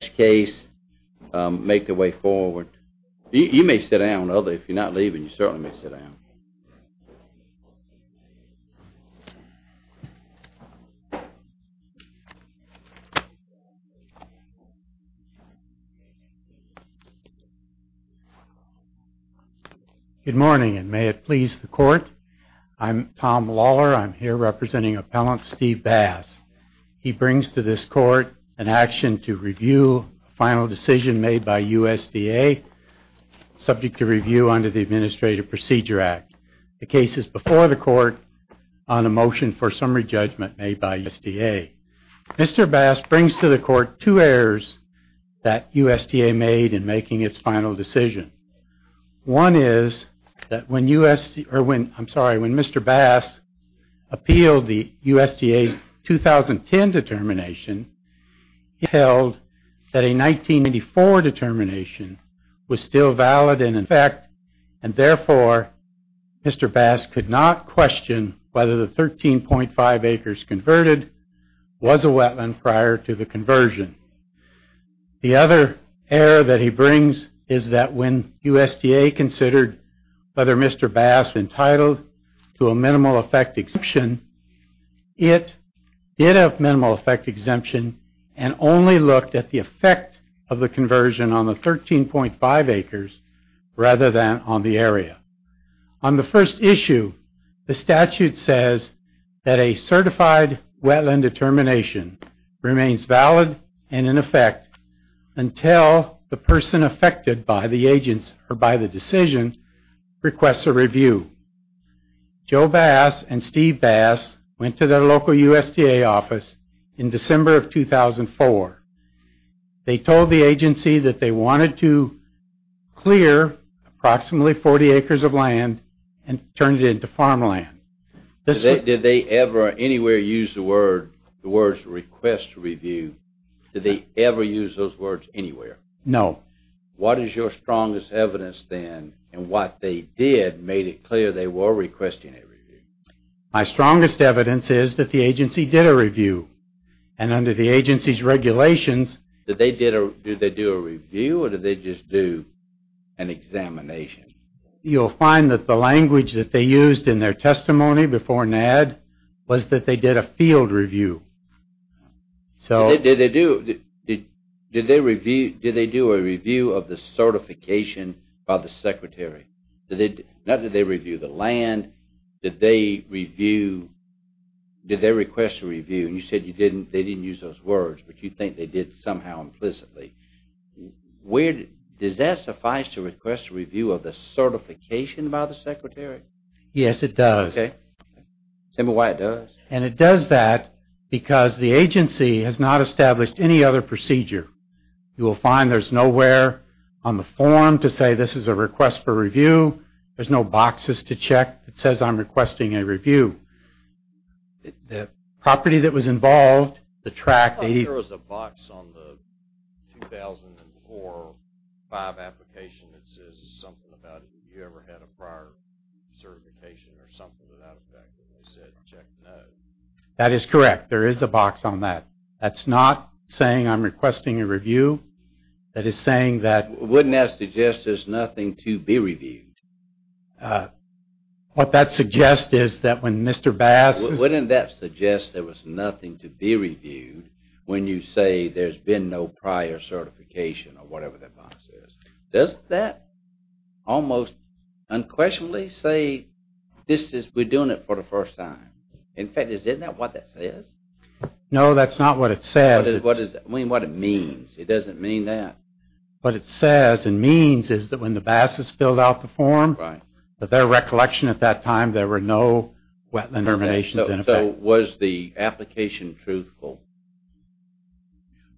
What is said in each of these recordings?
Tom Vilsack, Attorney for Steve Bass v. Tom Vilsack, Attorney for Steve Bass Good morning, and may it please the Court. I'm Tom Lawler. I'm here representing Appellant Steve Bass. He brings to this Court an action to review a final decision made by USDA, subject to review under the Administrative Procedure Act. The case is before the Court on a motion for summary judgment made by USDA. Mr. Bass brings to the Court two errors that USDA made in making its final decision. One is that when Mr. Bass appealed the USDA 2010 determination, he held that a 1984 determination was still valid and in effect, and therefore, Mr. Bass could not question whether the 13.5 acres converted was a wetland prior to the conversion. The other error that he brings is that when USDA considered whether Mr. Bass entitled to a minimal effect exemption, it did have minimal effect exemption and only looked at the effect of the conversion on the 13.5 acres rather than on the area. On the first issue, the statute says that a certified wetland determination remains valid and in effect until the person affected by the decision requests a review. Joe Bass and Steve Bass went to their local USDA office in December of 2004. They told the agency that they wanted to clear approximately 40 acres of land and turn it into farmland. Did they ever anywhere use the words request a review? Did they ever use those words anywhere? No. What is your strongest evidence then in what they did made it clear they were requesting a review? My strongest evidence is that the agency did a review and under the agency's regulations... Did they do a review or did they just do an examination? You'll find that the language that they used in their testimony before NAD was that they did a field review. Did they do a review of the certification by the secretary? Not that they reviewed the land, did they request a review and you said they didn't use those words, but you think they did somehow implicitly. Does that suffice to request a review of the certification by the secretary? Yes, it does. Okay. Tell me why it does. It does that because the agency has not established any other procedure. You will find there's nowhere on the form to say this is a request for review. There's no boxes to check that says I'm requesting a review. The property that was involved, the tract... There was a box on the 2004-05 application that says something about it. They said check no. That is correct. There is a box on that. That's not saying I'm requesting a review. That is saying that... Wouldn't that suggest there's nothing to be reviewed? What that suggests is that when Mr. Bass... Wouldn't that suggest there was nothing to be reviewed when you say there's been no prior certification or whatever that box is? Doesn't that almost unquestionably say this is... We're doing it for the first time. In fact, isn't that what that says? No, that's not what it says. What it means. It doesn't mean that. What it says and means is that when the Bass has filled out the form, that their recollection at that time, there were no wetland terminations in effect. So was the application truthful?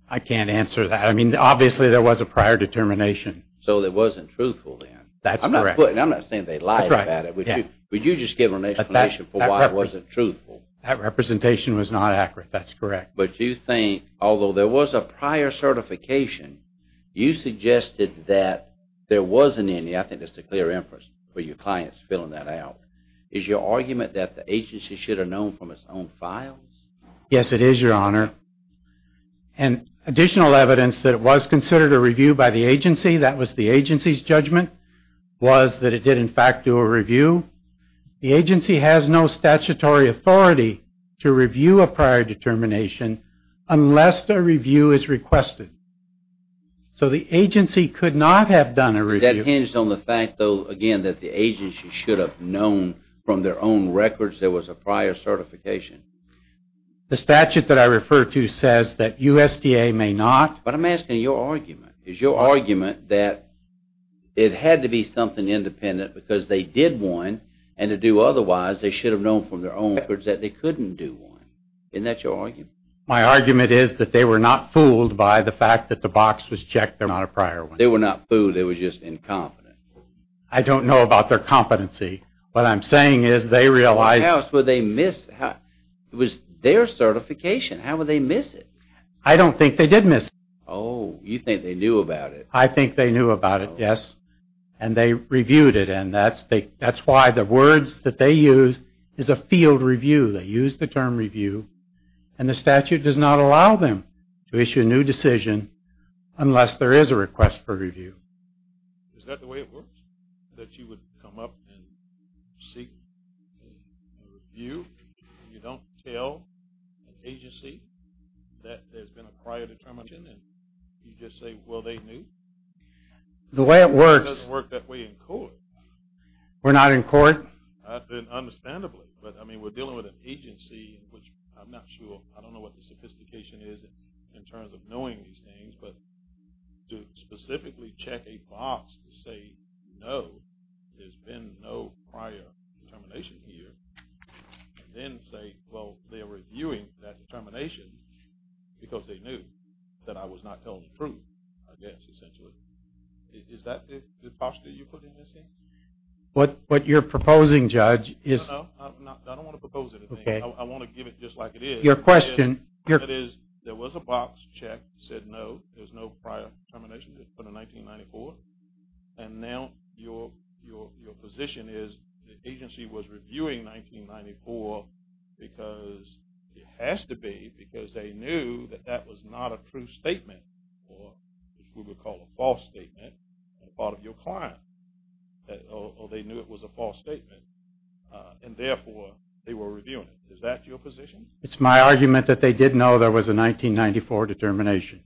I can't answer that. Obviously, there was a prior determination. So it wasn't truthful then? That's correct. I'm not saying they lied about it. Would you just give an explanation for why it wasn't truthful? That representation was not accurate. That's correct. But you think, although there was a prior certification, you suggested that there wasn't any. I think that's a clear inference for your clients filling that out. Is your argument that the agency should have known from its own files? Yes, it is, Your Honor. And additional evidence that it was considered a review by the agency, that was the agency's judgment, was that it did, in fact, do a review. The agency has no statutory authority to review a prior determination unless a review is requested. So the agency could not have done a review. That hinges on the fact, though, again, that the agency should have known from their own records there was a prior certification. The statute that I refer to says that USDA may not. But I'm asking your argument. Is your argument that it had to be something independent because they did one, and to do otherwise they should have known from their own records that they couldn't do one? Isn't that your argument? My argument is that they were not fooled by the fact that the box was checked there was not a prior one. They were not fooled. They were just incompetent. I don't know about their competency. What I'm saying is they realized. It was their certification. How would they miss it? I don't think they did miss it. Oh, you think they knew about it. I think they knew about it, yes. And they reviewed it. And that's why the words that they used is a field review. They used the term review. And the statute does not allow them to issue a new decision unless there is a request for review. Is that the way it works, that you would come up and seek review and you don't tell an agency that there's been a prior determination and you just say, well, they knew? The way it works. It doesn't work that way in court. We're not in court? Understandably. But, I mean, we're dealing with an agency in which I'm not sure. I don't know what the sophistication is in terms of knowing these things. But to specifically check a box and say, no, there's been no prior determination here, and then say, well, they're reviewing that determination because they knew that I was not telling the truth, I guess, essentially. Is that the posture you put in this thing? What you're proposing, Judge, is – No, no. I don't want to propose anything. I want to give it just like it is. Your question – That is, there was a box check that said no, there was no prior determination put in 1994, and now your position is the agency was reviewing 1994 because it has to be because they knew that that was not a true statement or what we would call a false statement on the part of your client, or they knew it was a false statement and, therefore, they were reviewing it. Is that your position? It's my argument that they did know there was a 1994 determination.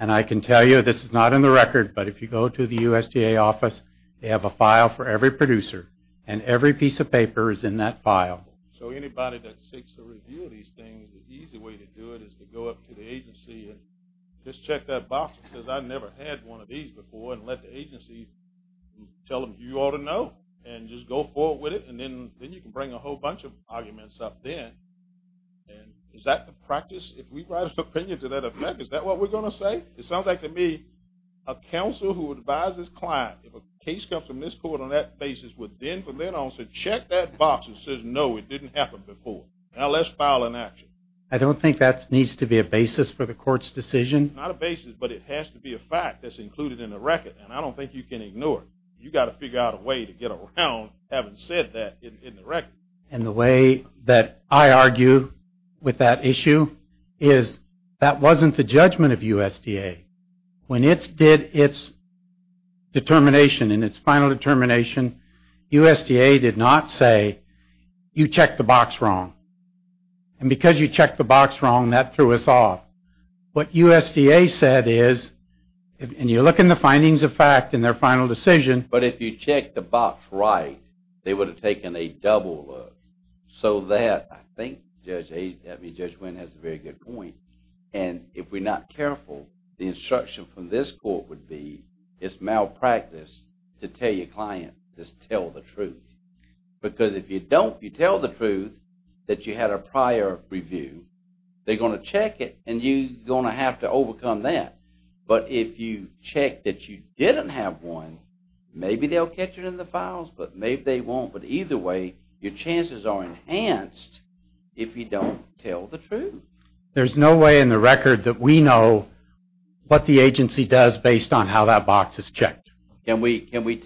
And I can tell you this is not in the record, but if you go to the USDA office, they have a file for every producer, and every piece of paper is in that file. So anybody that seeks to review these things, the easy way to do it is to go up to the agency and just check that box that says, I've never had one of these before, and let the agency tell them, you ought to know, and just go forward with it, and then you can bring a whole bunch of arguments up then. And is that the practice? If we write an opinion to that effect, is that what we're going to say? It sounds like to me a counsel who advises clients, if a case comes from this court on that basis, would then from then on say, check that box that says, no, it didn't happen before. Now let's file an action. I don't think that needs to be a basis for the court's decision. Not a basis, but it has to be a fact that's included in the record, and I don't think you can ignore it. You've got to figure out a way to get around having said that in the record. And the way that I argue with that issue is that wasn't the judgment of USDA. When it did its determination and its final determination, USDA did not say, you checked the box wrong. And because you checked the box wrong, that threw us off. What USDA said is, and you look in the findings of fact in their final decision. But if you checked the box right, they would have taken a double look, so that I think Judge Wynn has a very good point. And if we're not careful, the instruction from this court would be, it's malpractice to tell your client, just tell the truth. Because if you tell the truth that you had a prior review, they're going to check it, and you're going to have to overcome that. But if you check that you didn't have one, maybe they'll catch it in the files, but maybe they won't. But either way, your chances are enhanced if you don't tell the truth. There's no way in the record that we know what the agency does based on how that box is checked. Can we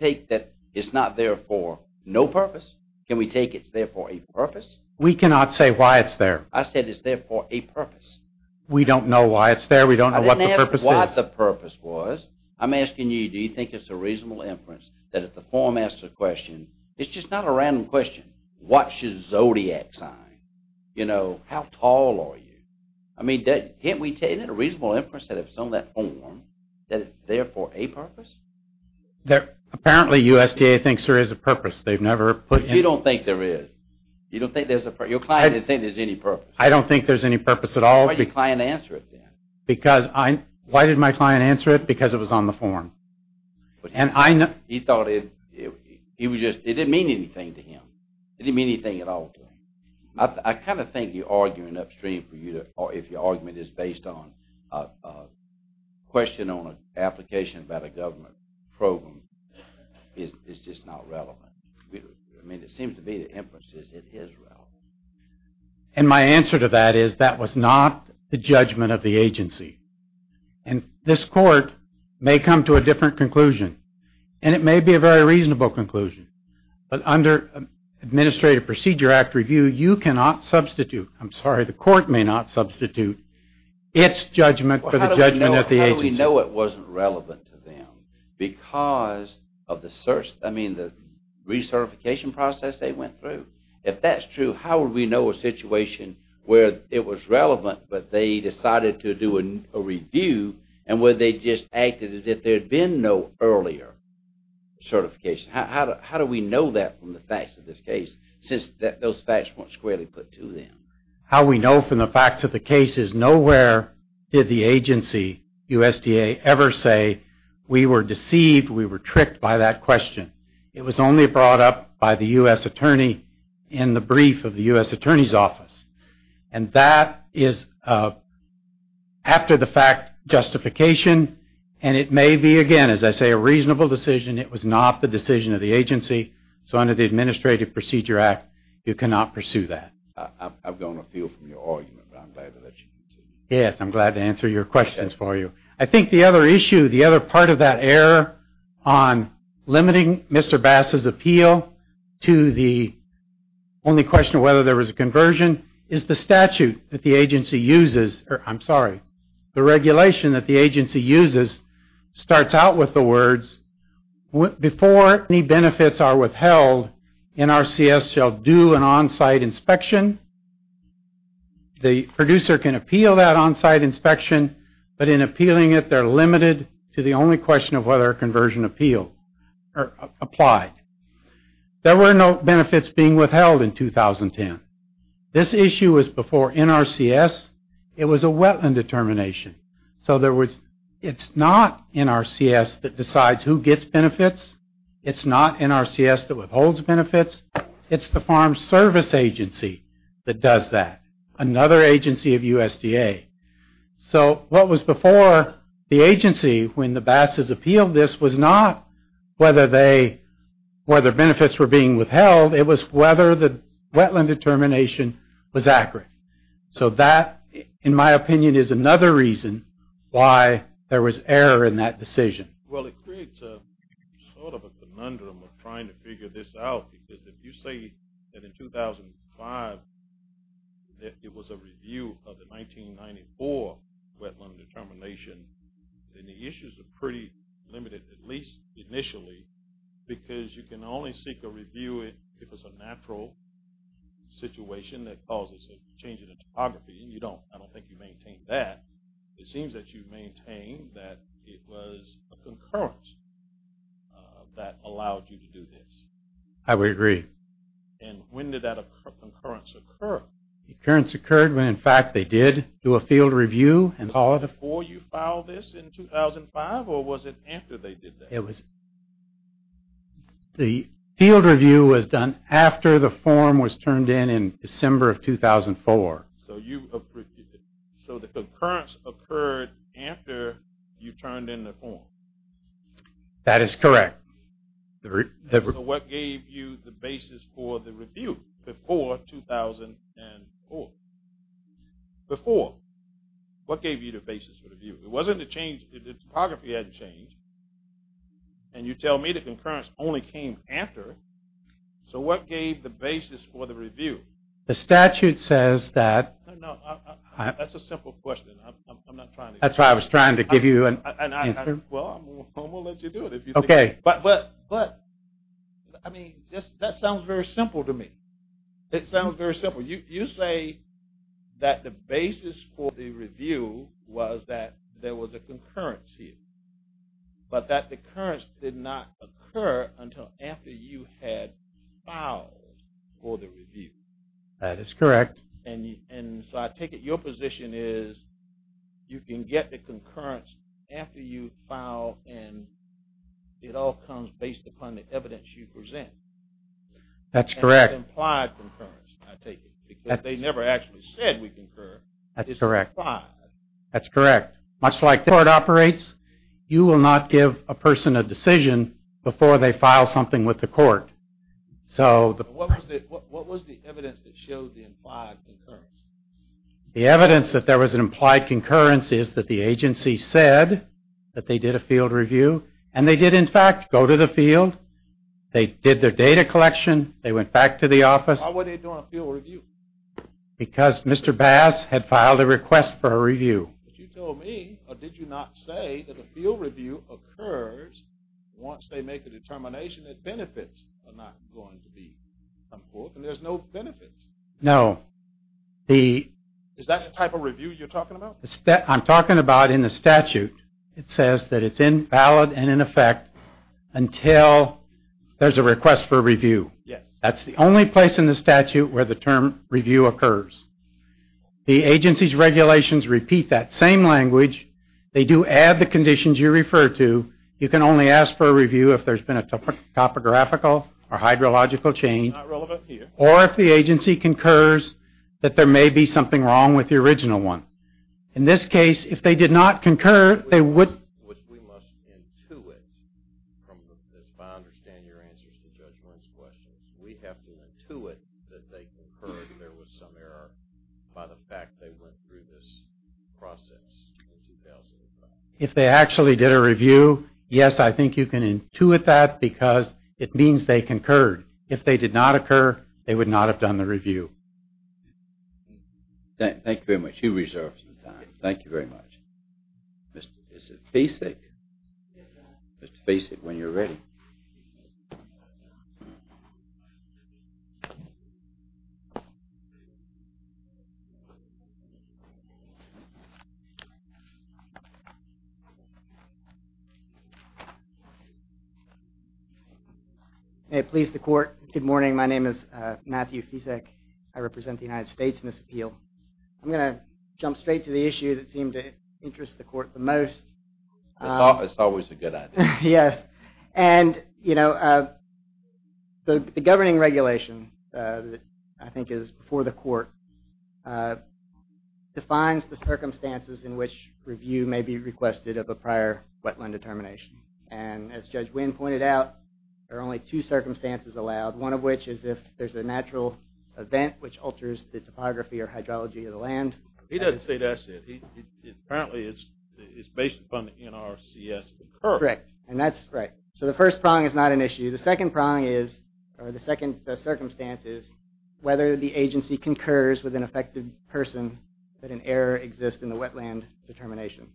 take that it's not there for no purpose? Can we take it's there for a purpose? We cannot say why it's there. I said it's there for a purpose. We don't know why it's there. We don't know what the purpose is. I didn't ask what the purpose was. I'm asking you, do you think it's a reasonable inference that if the form asks a question, it's just not a random question. What should Zodiac sign? You know, how tall are you? I mean, can't we take it? Isn't it a reasonable inference that if it's on that form, that it's there for a purpose? Apparently USDA thinks there is a purpose. They've never put it. You don't think there is. Your client didn't think there's any purpose. I don't think there's any purpose at all. Why didn't your client answer it then? Why didn't my client answer it? Because it was on the form. He thought it didn't mean anything to him. It didn't mean anything at all to him. I kind of think you're arguing upstream if your argument is based on a question on an application about a government program. It's just not relevant. I mean, it seems to be the inference is it is relevant. And my answer to that is that was not the judgment of the agency. And this court may come to a different conclusion. And it may be a very reasonable conclusion. But under Administrative Procedure Act review, you cannot substitute, I'm sorry, the court may not substitute its judgment for the judgment of the agency. How do we know it wasn't relevant to them? Because of the search, I mean, the recertification process they went through. If that's true, how would we know a situation where it was relevant but they decided to do a review and where they just acted as if there had been no earlier certification? How do we know that from the facts of this case since those facts weren't squarely put to them? How we know from the facts of the case is Nowhere did the agency, USDA, ever say we were deceived, we were tricked by that question. It was only brought up by the U.S. attorney in the brief of the U.S. attorney's office. And that is after the fact justification. And it may be, again, as I say, a reasonable decision. It was not the decision of the agency. So under the Administrative Procedure Act, you cannot pursue that. I've gone afield from your argument, but I'm glad to let you continue. Yes, I'm glad to answer your questions for you. I think the other issue, the other part of that error on limiting Mr. Bass's appeal to the only question of whether there was a conversion is the statute that the agency uses. I'm sorry, the regulation that the agency uses starts out with the words, Before any benefits are withheld, NRCS shall do an on-site inspection. The producer can appeal that on-site inspection, but in appealing it, they're limited to the only question of whether a conversion applied. There were no benefits being withheld in 2010. This issue was before NRCS. It was a wetland determination. So it's not NRCS that decides who gets benefits. It's not NRCS that withholds benefits. It's the Farm Service Agency that does that, another agency of USDA. So what was before the agency when the Bass's appealed this was not whether benefits were being withheld. It was whether the wetland determination was accurate. So that, in my opinion, is another reason why there was error in that decision. Well, it creates sort of a conundrum of trying to figure this out, because if you say that in 2005 that it was a review of the 1994 wetland determination, then the issues are pretty limited, at least initially, because you can only seek a review if it's a natural situation that causes a change in the topography, and I don't think you maintain that. It seems that you maintain that it was a concurrence that allowed you to do this. I would agree. And when did that concurrence occur? The concurrence occurred when, in fact, they did do a field review. Was it before you filed this in 2005, or was it after they did that? The field review was done after the form was turned in in December of 2004. So the concurrence occurred after you turned in the form. That is correct. So what gave you the basis for the review before 2004? Before. What gave you the basis for the review? It wasn't a change. The topography hadn't changed, and you tell me the concurrence only came after. So what gave the basis for the review? The statute says that... No, no, that's a simple question. I'm not trying to... That's why I was trying to give you an answer. Well, we'll let you do it if you think... Okay. But, I mean, that sounds very simple to me. It sounds very simple. You say that the basis for the review was that there was a concurrence here, but that the concurrence did not occur until after you had filed for the review. That is correct. And so I take it your position is you can get the concurrence after you file, and it all comes based upon the evidence you present. That's correct. And it's implied concurrence, I take it, because they never actually said we concurred. That's correct. It's implied. That's correct. Much like the court operates, you will not give a person a decision before they file something with the court. What was the evidence that showed the implied concurrence? The evidence that there was an implied concurrence is that the agency said that they did a field review, and they did, in fact, go to the field. They did their data collection. They went back to the office. Why were they doing a field review? Because Mr. Bass had filed a request for a review. But you told me, or did you not say, that a field review occurs once they make a determination that benefits are not going to be come forth, and there's no benefits. No. Is that the type of review you're talking about? I'm talking about in the statute. It says that it's invalid and in effect until there's a request for a review. Yes. That's the only place in the statute where the term review occurs. The agency's regulations repeat that same language. They do add the conditions you refer to. You can only ask for a review if there's been a topographical or hydrological change. Not relevant here. Or if the agency concurs that there may be something wrong with the original one. In this case, if they did not concur, they would... Which we must intuit from the... I understand your answers to Judge Wendt's questions. We have to intuit that they concurred and there was some error by the fact they went through this process. If they actually did a review, yes, I think you can intuit that because it means they concurred. If they did not occur, they would not have done the review. Thank you very much. You reserved some time. Thank you very much. Is it basic? It's basic when you're ready. Thank you. May it please the court. Good morning. My name is Matthew Fisak. I represent the United States in this appeal. I'm going to jump straight to the issue that seemed to interest the court the most. It's always a good idea. Yes. And, you know, the governing regulation that I think is before the court defines the circumstances in which review may be requested of a prior wetland determination. And as Judge Wendt pointed out, there are only two circumstances allowed, one of which is if there's a natural event which alters the topography or hydrology of the land. He doesn't say that's it. Apparently, it's based upon the NRCS. Correct. And that's right. So the first prong is not an issue. The second prong is... in the circumstances, whether the agency concurs with an affected person that an error exists in the wetland determination,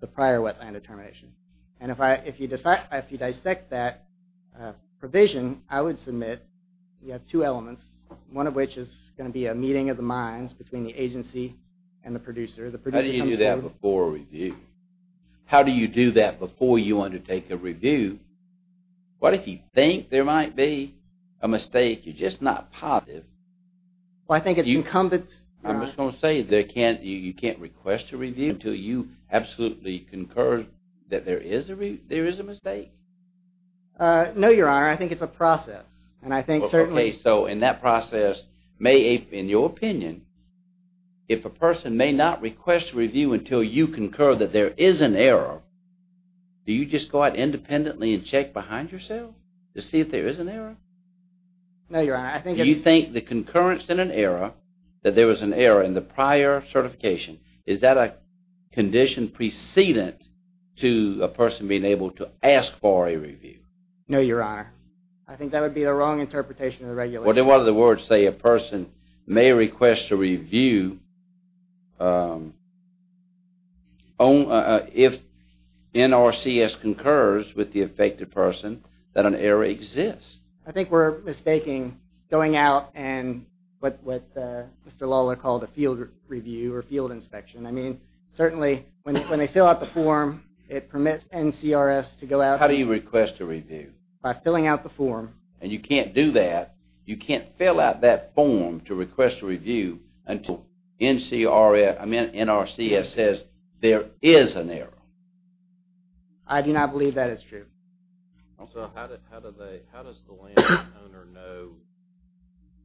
the prior wetland determination. And if you dissect that provision, I would submit you have two elements, one of which is going to be a meeting of the minds between the agency and the producer. How do you do that before a review? How do you do that before you undertake a review? What if you think there might be a mistake, you're just not positive? Well, I think it's incumbent... I'm just going to say you can't request a review until you absolutely concur that there is a mistake? No, Your Honor, I think it's a process. And I think certainly... Okay, so in that process, in your opinion, if a person may not request a review until you concur that there is an error, do you just go out independently and check behind yourself to see if there is an error? No, Your Honor, I think... Do you think the concurrence in an error, that there was an error in the prior certification, is that a condition precedent to a person being able to ask for a review? No, Your Honor. I think that would be the wrong interpretation of the regulation. Well, then what are the words, say, a person may request a review... if NRCS concurs with the affected person, that an error exists? I think we're mistaking going out and what Mr. Lawler called a field review or field inspection. I mean, certainly when they fill out the form, it permits NCRS to go out... How do you request a review? By filling out the form. And you can't do that. You can't fill out that form to request a review until NRCS says there is an error. I do not believe that is true. Also, how does the landowner know,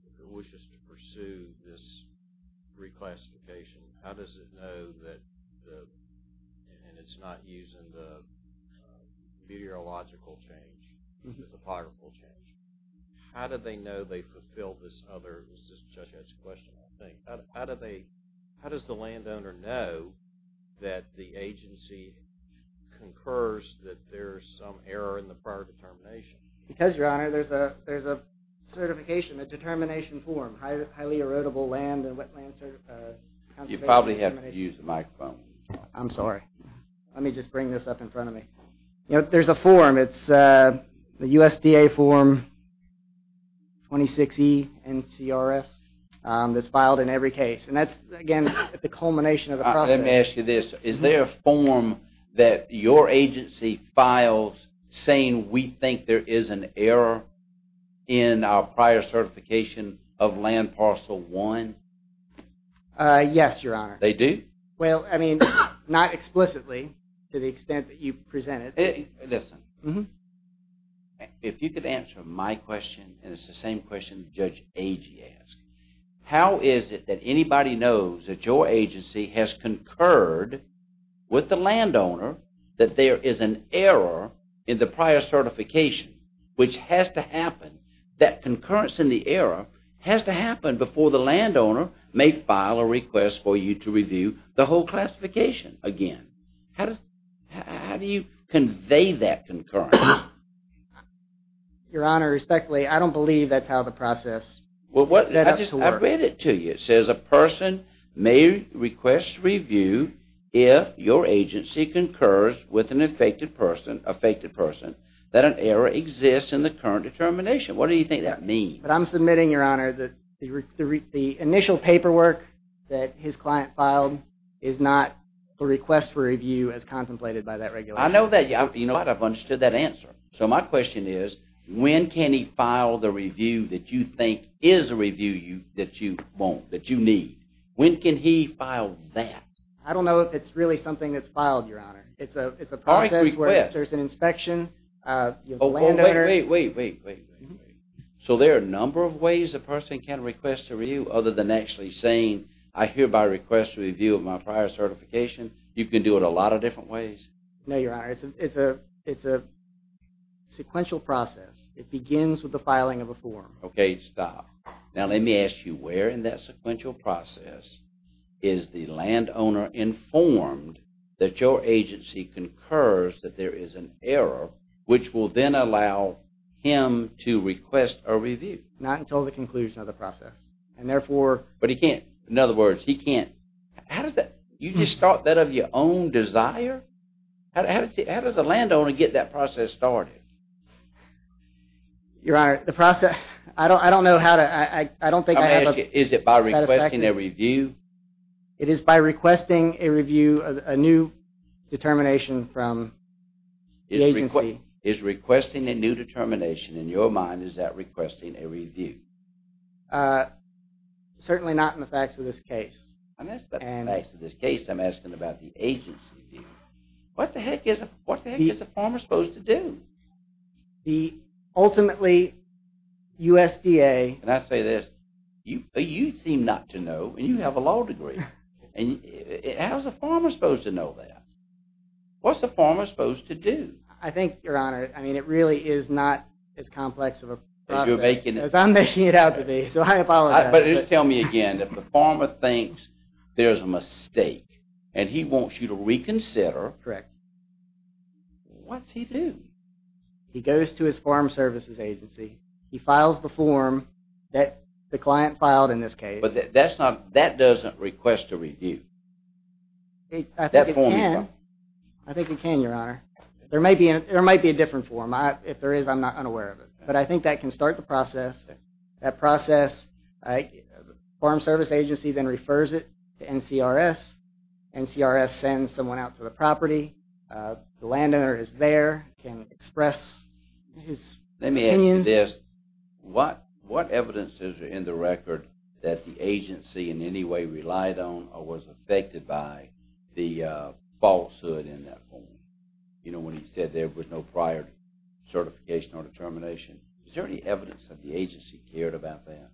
if it wishes to pursue this reclassification, how does it know that... and it's not using the meteorological change, the topographical change. How do they know they fulfilled this other... How does the landowner know that the agency concurs that there's some error in the prior determination? Because, Your Honor, there's a certification, a determination form, highly erodible land and wetland conservation... You probably have to use the microphone. I'm sorry. Let me just bring this up in front of me. There's a form. It's the USDA form 26E NCRS that's filed in every case. And that's, again, the culmination of the process. Let me ask you this. Is there a form that your agency files saying we think there is an error in our prior certification of Land Parcel 1? Yes, Your Honor. They do? Well, I mean, not explicitly, to the extent that you present it. Listen. If you could answer my question, and it's the same question Judge Agee asked. How is it that anybody knows that your agency has concurred with the landowner that there is an error in the prior certification? Which has to happen. That concurrence in the error has to happen before the landowner may file a request for you to review the whole classification again. How do you convey that concurrence? Your Honor, respectfully, I don't believe that's how the process set up to work. I've read it to you. It says a person may request review if your agency concurs with an affected person that an error exists in the current determination. What do you think that means? But I'm submitting, Your Honor, that the initial paperwork that his client filed is not a request for review as contemplated by that regulation. I know that. You know what? I've understood that answer. So my question is, when can he file the review that you think is a review that you want, that you need? When can he file that? I don't know if it's really something that's filed, Your Honor. It's a process where there's an inspection. Wait, wait, wait. So there are a number of ways a person can request a review other than actually saying, I hereby request a review of my prior certification. You can do it a lot of different ways. No, Your Honor. It's a sequential process. It begins with the filing of a form. Okay, stop. Now let me ask you, where in that sequential process is the landowner informed that your agency concurs that there is an error which will then allow him to request a review? Not until the conclusion of the process. And therefore... But he can't. In other words, he can't. How does that... You just start that of your own desire? How does a landowner get that process started? Your Honor, the process... I don't know how to... I don't think I have a satisfactory... Is it by requesting a review? It is by requesting a review, a new determination from the agency. Is requesting a new determination, in your mind, is that requesting a review? Certainly not in the facts of this case. In the facts of this case, I'm asking about the agency view. What the heck is a farmer supposed to do? Ultimately, USDA... Can I say this? You seem not to know, and you have a law degree. How's a farmer supposed to know that? What's a farmer supposed to do? I think, Your Honor, it really is not as complex of a process as I'm making it out to be, so I apologize. But just tell me again, if the farmer thinks there's a mistake, and he wants you to reconsider... Correct. What's he do? He goes to his farm services agency. He files the form that the client filed in this case. But that doesn't request a review. I think it can, Your Honor. There might be a different form. If there is, I'm not unaware of it. But I think that can start the process. That process... The service agency then refers it to NCRS. NCRS sends someone out to the property. The landowner is there, can express his opinions. Let me ask you this. What evidence is in the record that the agency in any way relied on or was affected by the falsehood in that form? You know, when he said there was no prior certification or determination. Is there any evidence that the agency cared about that?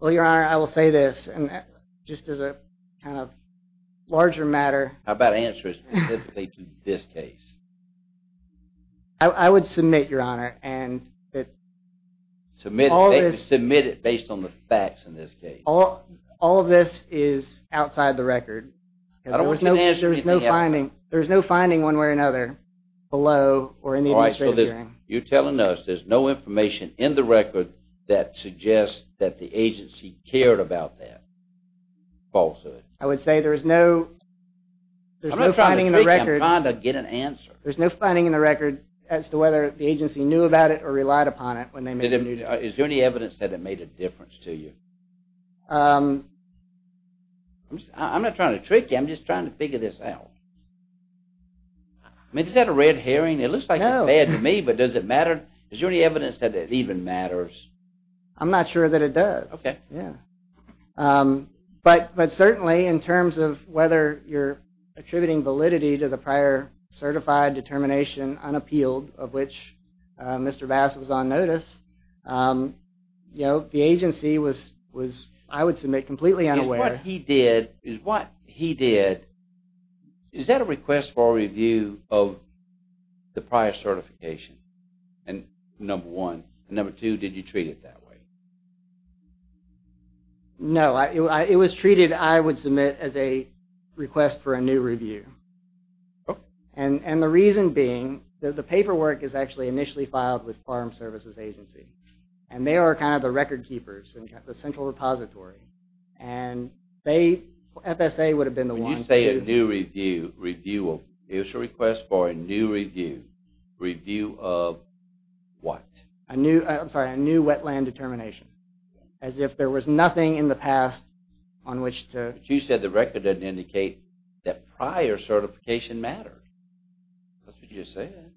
Well, Your Honor, I will say this. Just as a kind of larger matter... How about answers specifically to this case? I would submit, Your Honor, and that... Submit it based on the facts in this case. All of this is outside the record. There's no finding one way or another below or in the administrative hearing. You're telling us there's no information in the record that suggests that the agency cared about that falsehood? I would say there's no... I'm not trying to trick you. I'm trying to get an answer. There's no finding in the record as to whether the agency knew about it or relied upon it when they made the decision. Is there any evidence that it made a difference to you? I'm not trying to trick you. I'm just trying to figure this out. I mean, does that have a red herring? It looks like it's bad to me, but does it matter? Is there any evidence that it even matters? I'm not sure that it does. But certainly, in terms of whether you're attributing validity to the prior certified determination unappealed, of which Mr. Bass was on notice, the agency was, I would submit, completely unaware. Is what he did... the prior certification? Number one. Number two, did you treat it that way? No. It was treated, I would submit, as a request for a new review. And the reason being that the paperwork is actually initially filed with Farm Services Agency. And they are kind of the record keepers, the central repository. And FSA would have been the one... When you say a new review, it was a request for a new review. Review of what? I'm sorry, a new wetland determination. As if there was nothing in the past on which to... But you said the record doesn't indicate that prior certification mattered. That's what you said.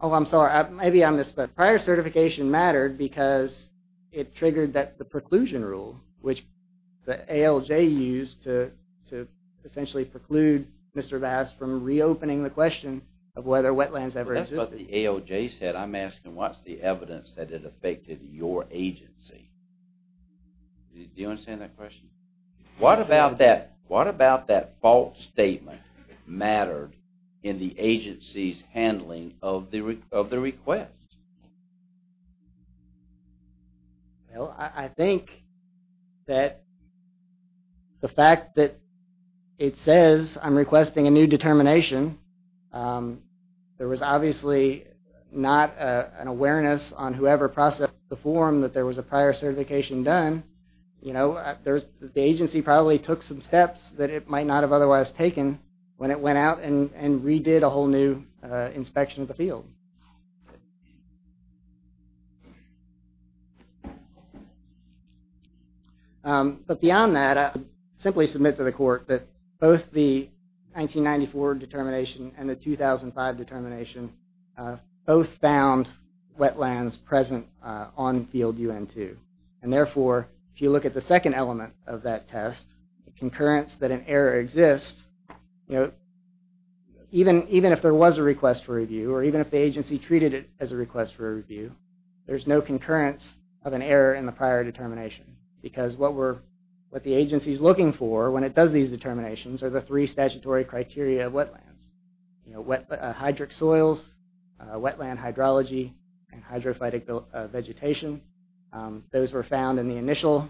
Oh, I'm sorry. Maybe I missed that. Prior certification mattered because it triggered the preclusion rule, which the ALJ used to essentially preclude Mr. Bass from reopening the question of whether wetlands ever existed. That's what the ALJ said. I'm asking what's the evidence that it affected your agency. Do you understand that question? What about that false statement mattered in the agency's handling of the request? Well, I think that the fact that it says I'm requesting a new determination, there was obviously not an awareness on whoever processed the form that there was a prior certification done. The agency probably took some steps that it might not have otherwise taken when it went out and redid a whole new inspection of the field. But beyond that, I simply submit to the court that both the 1994 determination and the 2005 determination both found wetlands present on field UN2. And therefore, if you look at the second element of that test, the concurrence that an error exists, even if there was a request for review or even if the agency treated it as a request for review, there's no concurrence of an error in the prior determination because what the agency's looking for when it does these determinations are the three statutory criteria of wetlands. Hydric soils, wetland hydrology, and hydrophytic vegetation. Those were found in the initial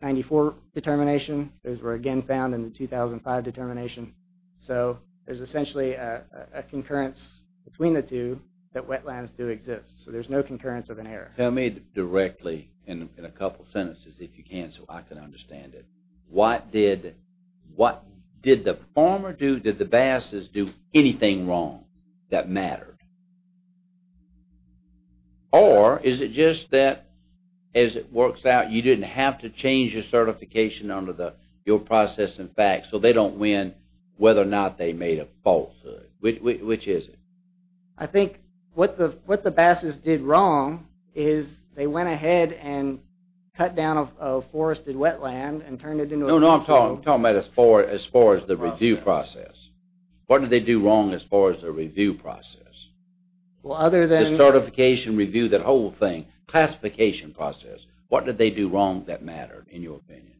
1994 determination. Those were again found in the 2005 determination. So there's essentially a concurrence between the two that wetlands do exist. So there's no concurrence of an error. Tell me directly in a couple sentences if you can so I can understand it. What did the former do? Did the basses do anything wrong that mattered? Or is it just that, as it works out, you didn't have to change your certification under your process and facts so they don't win whether or not they made a falsehood? Which is it? I think what the basses did wrong is they went ahead and cut down a forested wetland and turned it into a... No, no, I'm talking about as far as the review process. What did they do wrong as far as the review process? The certification review, that whole thing, classification process. What did they do wrong that mattered, in your opinion?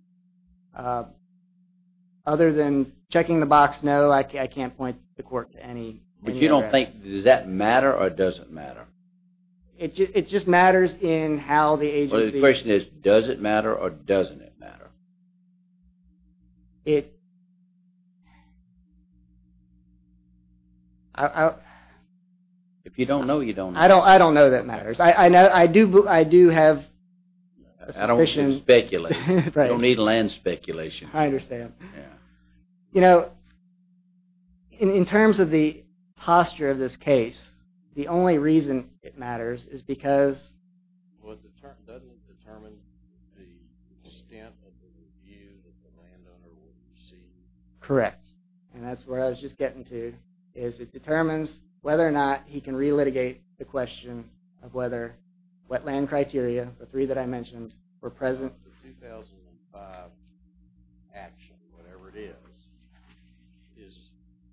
Other than checking the box, no, I can't point the quirk to any... But you don't think, does that matter or does it matter? It just matters in how the agency... The question is, does it matter or doesn't it matter? It... If you don't know, you don't know. I don't know that matters. I do have a suspicion... I don't need land speculation. I understand. You know, in terms of the posture of this case, the only reason it matters is because... Well, doesn't it determine the extent of the review that the landowner will receive? Correct, and that's where I was just getting to, is it determines whether or not he can relitigate the question of whether wetland criteria, the three that I mentioned, were present... The 2005 action, whatever it is, is,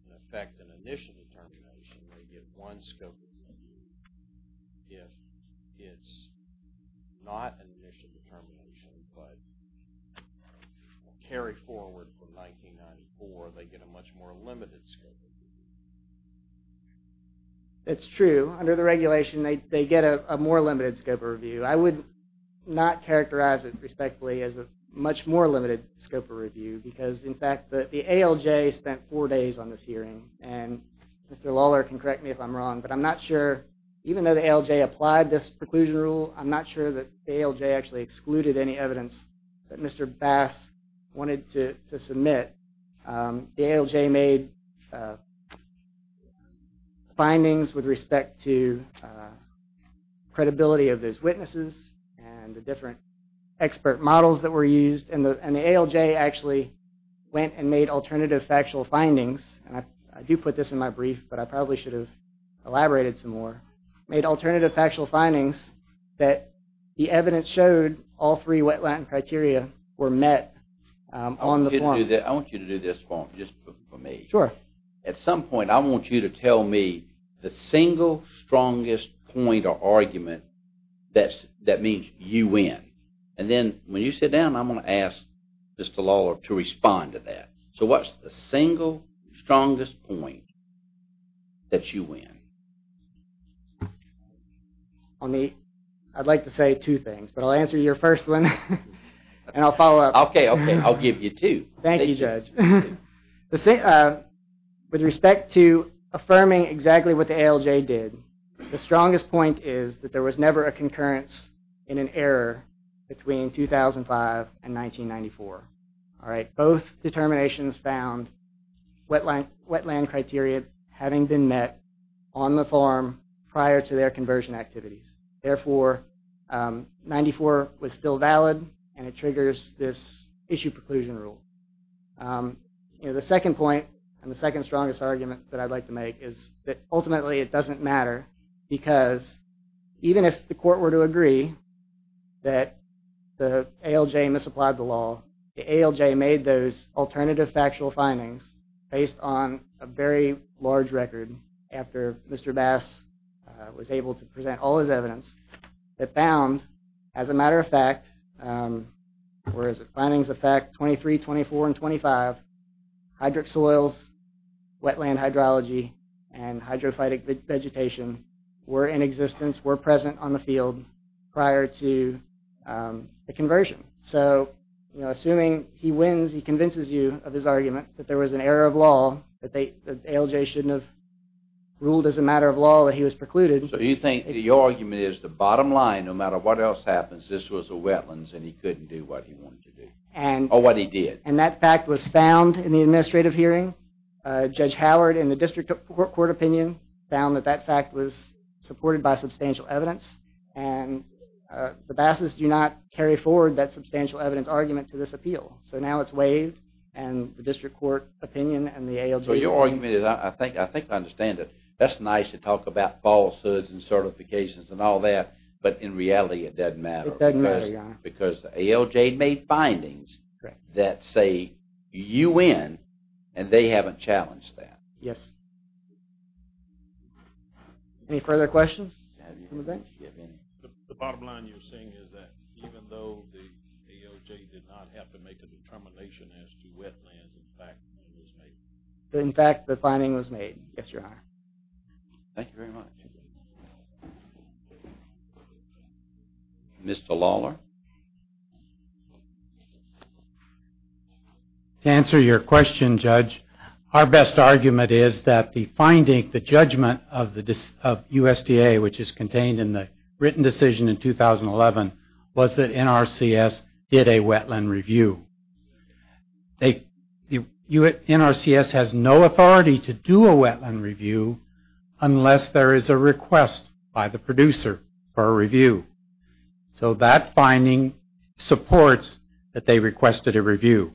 in effect, an initial determination. They get one scope of review. If it's not an initial determination, but a carry-forward from 1994, they get a much more limited scope of review. That's true. Under the regulation, they get a more limited scope of review. I would not characterize it respectfully as a much more limited scope of review because, in fact, the ALJ spent four days on this hearing, and Mr. Lawler can correct me if I'm wrong, but I'm not sure, even though the ALJ applied this preclusion rule, I'm not sure that the ALJ actually excluded any evidence that Mr. Bass wanted to submit. The ALJ made findings with respect to credibility of those witnesses and the different expert models that were used, and the ALJ actually went and made alternative factual findings, and I do put this in my brief, but I probably should have elaborated some more, made alternative factual findings that the evidence showed all three wetland criteria were met on the form. I want you to do this for me. Sure. At some point, I want you to tell me the single strongest point or argument that means you win, and then when you sit down, I'm going to ask Mr. Lawler to respond to that. So what's the single strongest point that you win? I'd like to say two things, but I'll answer your first one, and I'll follow up. Okay, okay, I'll give you two. Thank you, Judge. With respect to affirming exactly what the ALJ did, the strongest point is that there was never a concurrence in an error between 2005 and 1994. Both determinations found wetland criteria having been met on the form prior to their conversion activities. Therefore, 1994 was still valid, and it triggers this issue preclusion rule. The second point and the second strongest argument that I'd like to make is that ultimately it doesn't matter because even if the court were to agree that the ALJ misapplied the law, the ALJ made those alternative factual findings based on a very large record after Mr. Bass was able to present all his evidence that found, as a matter of fact, where is it, findings of fact 23, 24, and 25, hydric soils, wetland hydrology, and hydrophytic vegetation were in existence, were present on the field prior to the conversion. So, you know, assuming he wins, he convinces you of his argument that there was an error of law, that ALJ shouldn't have ruled as a matter of law that he was precluded. So you think the argument is the bottom line, no matter what else happens, this was a wetlands and he couldn't do what he wanted to do, or what he did. And that fact was found in the administrative hearing. Judge Howard, in the district court opinion, found that that fact was supported by substantial evidence, and the Bass's do not carry forward that substantial evidence argument to this appeal. So now it's waived, and the district court opinion and the ALJ. So your argument is, I think I understand it. That's nice to talk about falsehoods and certifications and all that, but in reality it doesn't matter. It doesn't matter, Your Honor. Because ALJ made findings that say you win, and they haven't challenged that. Yes. Any further questions? The bottom line you're saying is that even though the ALJ did not have to make a determination as to wetlands, the fact was made. In fact, the finding was made. Yes, Your Honor. Thank you very much. Mr. Lawler. To answer your question, Judge, our best argument is that the finding, the judgment of USDA, which is contained in the written decision in 2011, was that NRCS did a wetland review. NRCS has no authority to do a wetland review unless there is a request by the producer for a review. So that finding supports that they requested a review.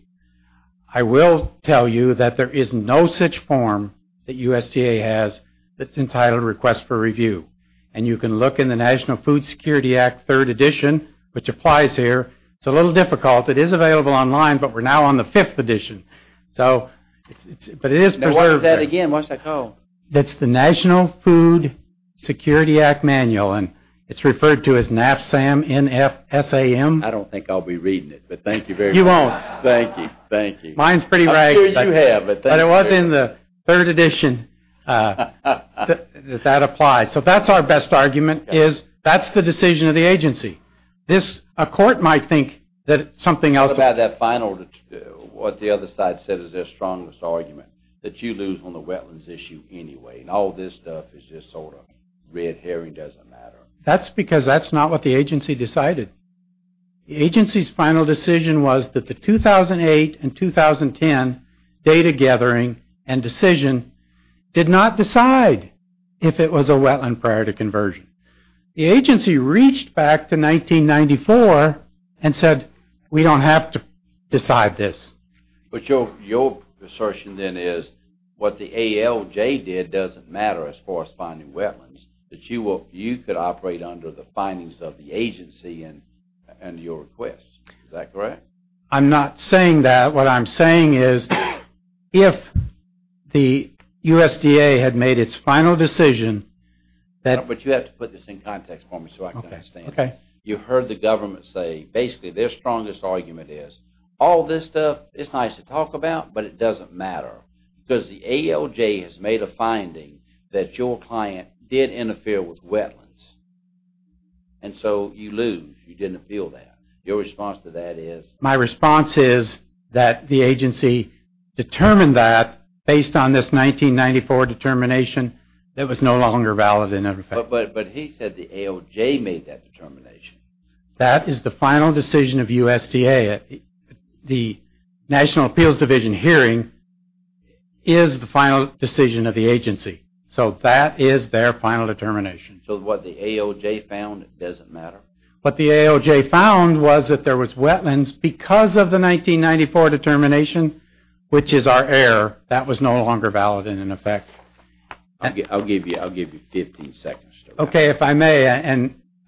I will tell you that there is no such form that USDA has that's entitled Request for Review, and you can look in the National Food Security Act, 3rd edition, which applies here. It's a little difficult. It is available online, but we're now on the 5th edition. What is that again? What's that called? That's the National Food Security Act Manual, and it's referred to as NAFSAM, N-F-S-A-M. I don't think I'll be reading it, but thank you very much. You won't. Thank you, thank you. Mine's pretty ragged. I'm sure you have, but thank you. But it was in the 3rd edition that that applies. So that's our best argument is that's the decision of the agency. A court might think that something else... What about that final, what the other side said is their strongest argument, that you lose on the wetlands issue anyway, and all this stuff is just sort of red herring doesn't matter. That's because that's not what the agency decided. The agency's final decision was that the 2008 and 2010 data gathering and decision did not decide if it was a wetland prior to conversion. The agency reached back to 1994 and said we don't have to decide this. But your assertion then is what the ALJ did doesn't matter as far as finding wetlands, that you could operate under the findings of the agency and your request. Is that correct? I'm not saying that. What I'm saying is if the USDA had made its final decision... But you have to put this in context for me so I can understand. You heard the government say basically their strongest argument is all this stuff is nice to talk about, but it doesn't matter. Because the ALJ has made a finding that your client did interfere with wetlands, and so you lose, you didn't appeal that. Your response to that is? My response is that the agency determined that based on this 1994 determination that was no longer valid in effect. But he said the ALJ made that determination. That is the final decision of USDA. The National Appeals Division hearing is the final decision of the agency. So that is their final determination. So what the ALJ found doesn't matter. What the ALJ found was that there was wetlands because of the 1994 determination, which is our error, that was no longer valid in effect. I'll give you 15 seconds. Okay, if I may.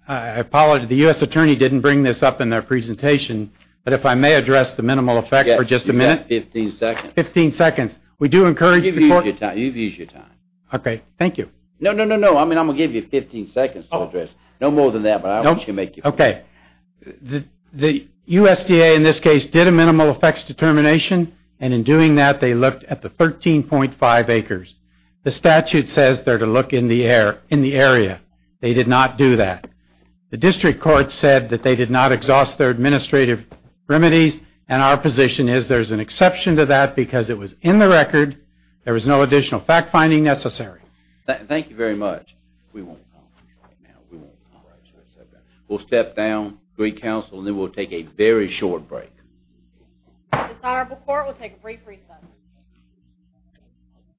I apologize. The U.S. attorney didn't bring this up in their presentation, but if I may address the minimal effect for just a minute. You have 15 seconds. 15 seconds. We do encourage the court. You've used your time. Okay, thank you. No, no, no, no. I'm going to give you 15 seconds to address. No more than that, but I want you to make your point. Okay. The USDA in this case did a minimal effects determination, and in doing that they looked at the 13.5 acres. The statute says they're to look in the area. They did not do that. The district court said that they did not exhaust their administrative remedies, and our position is there's an exception to that because it was in the record. There was no additional fact-finding necessary. Thank you very much. We won't comment right now. We won't comment. We'll step down, greet counsel, and then we'll take a very short break. The desirable court will take a brief recess.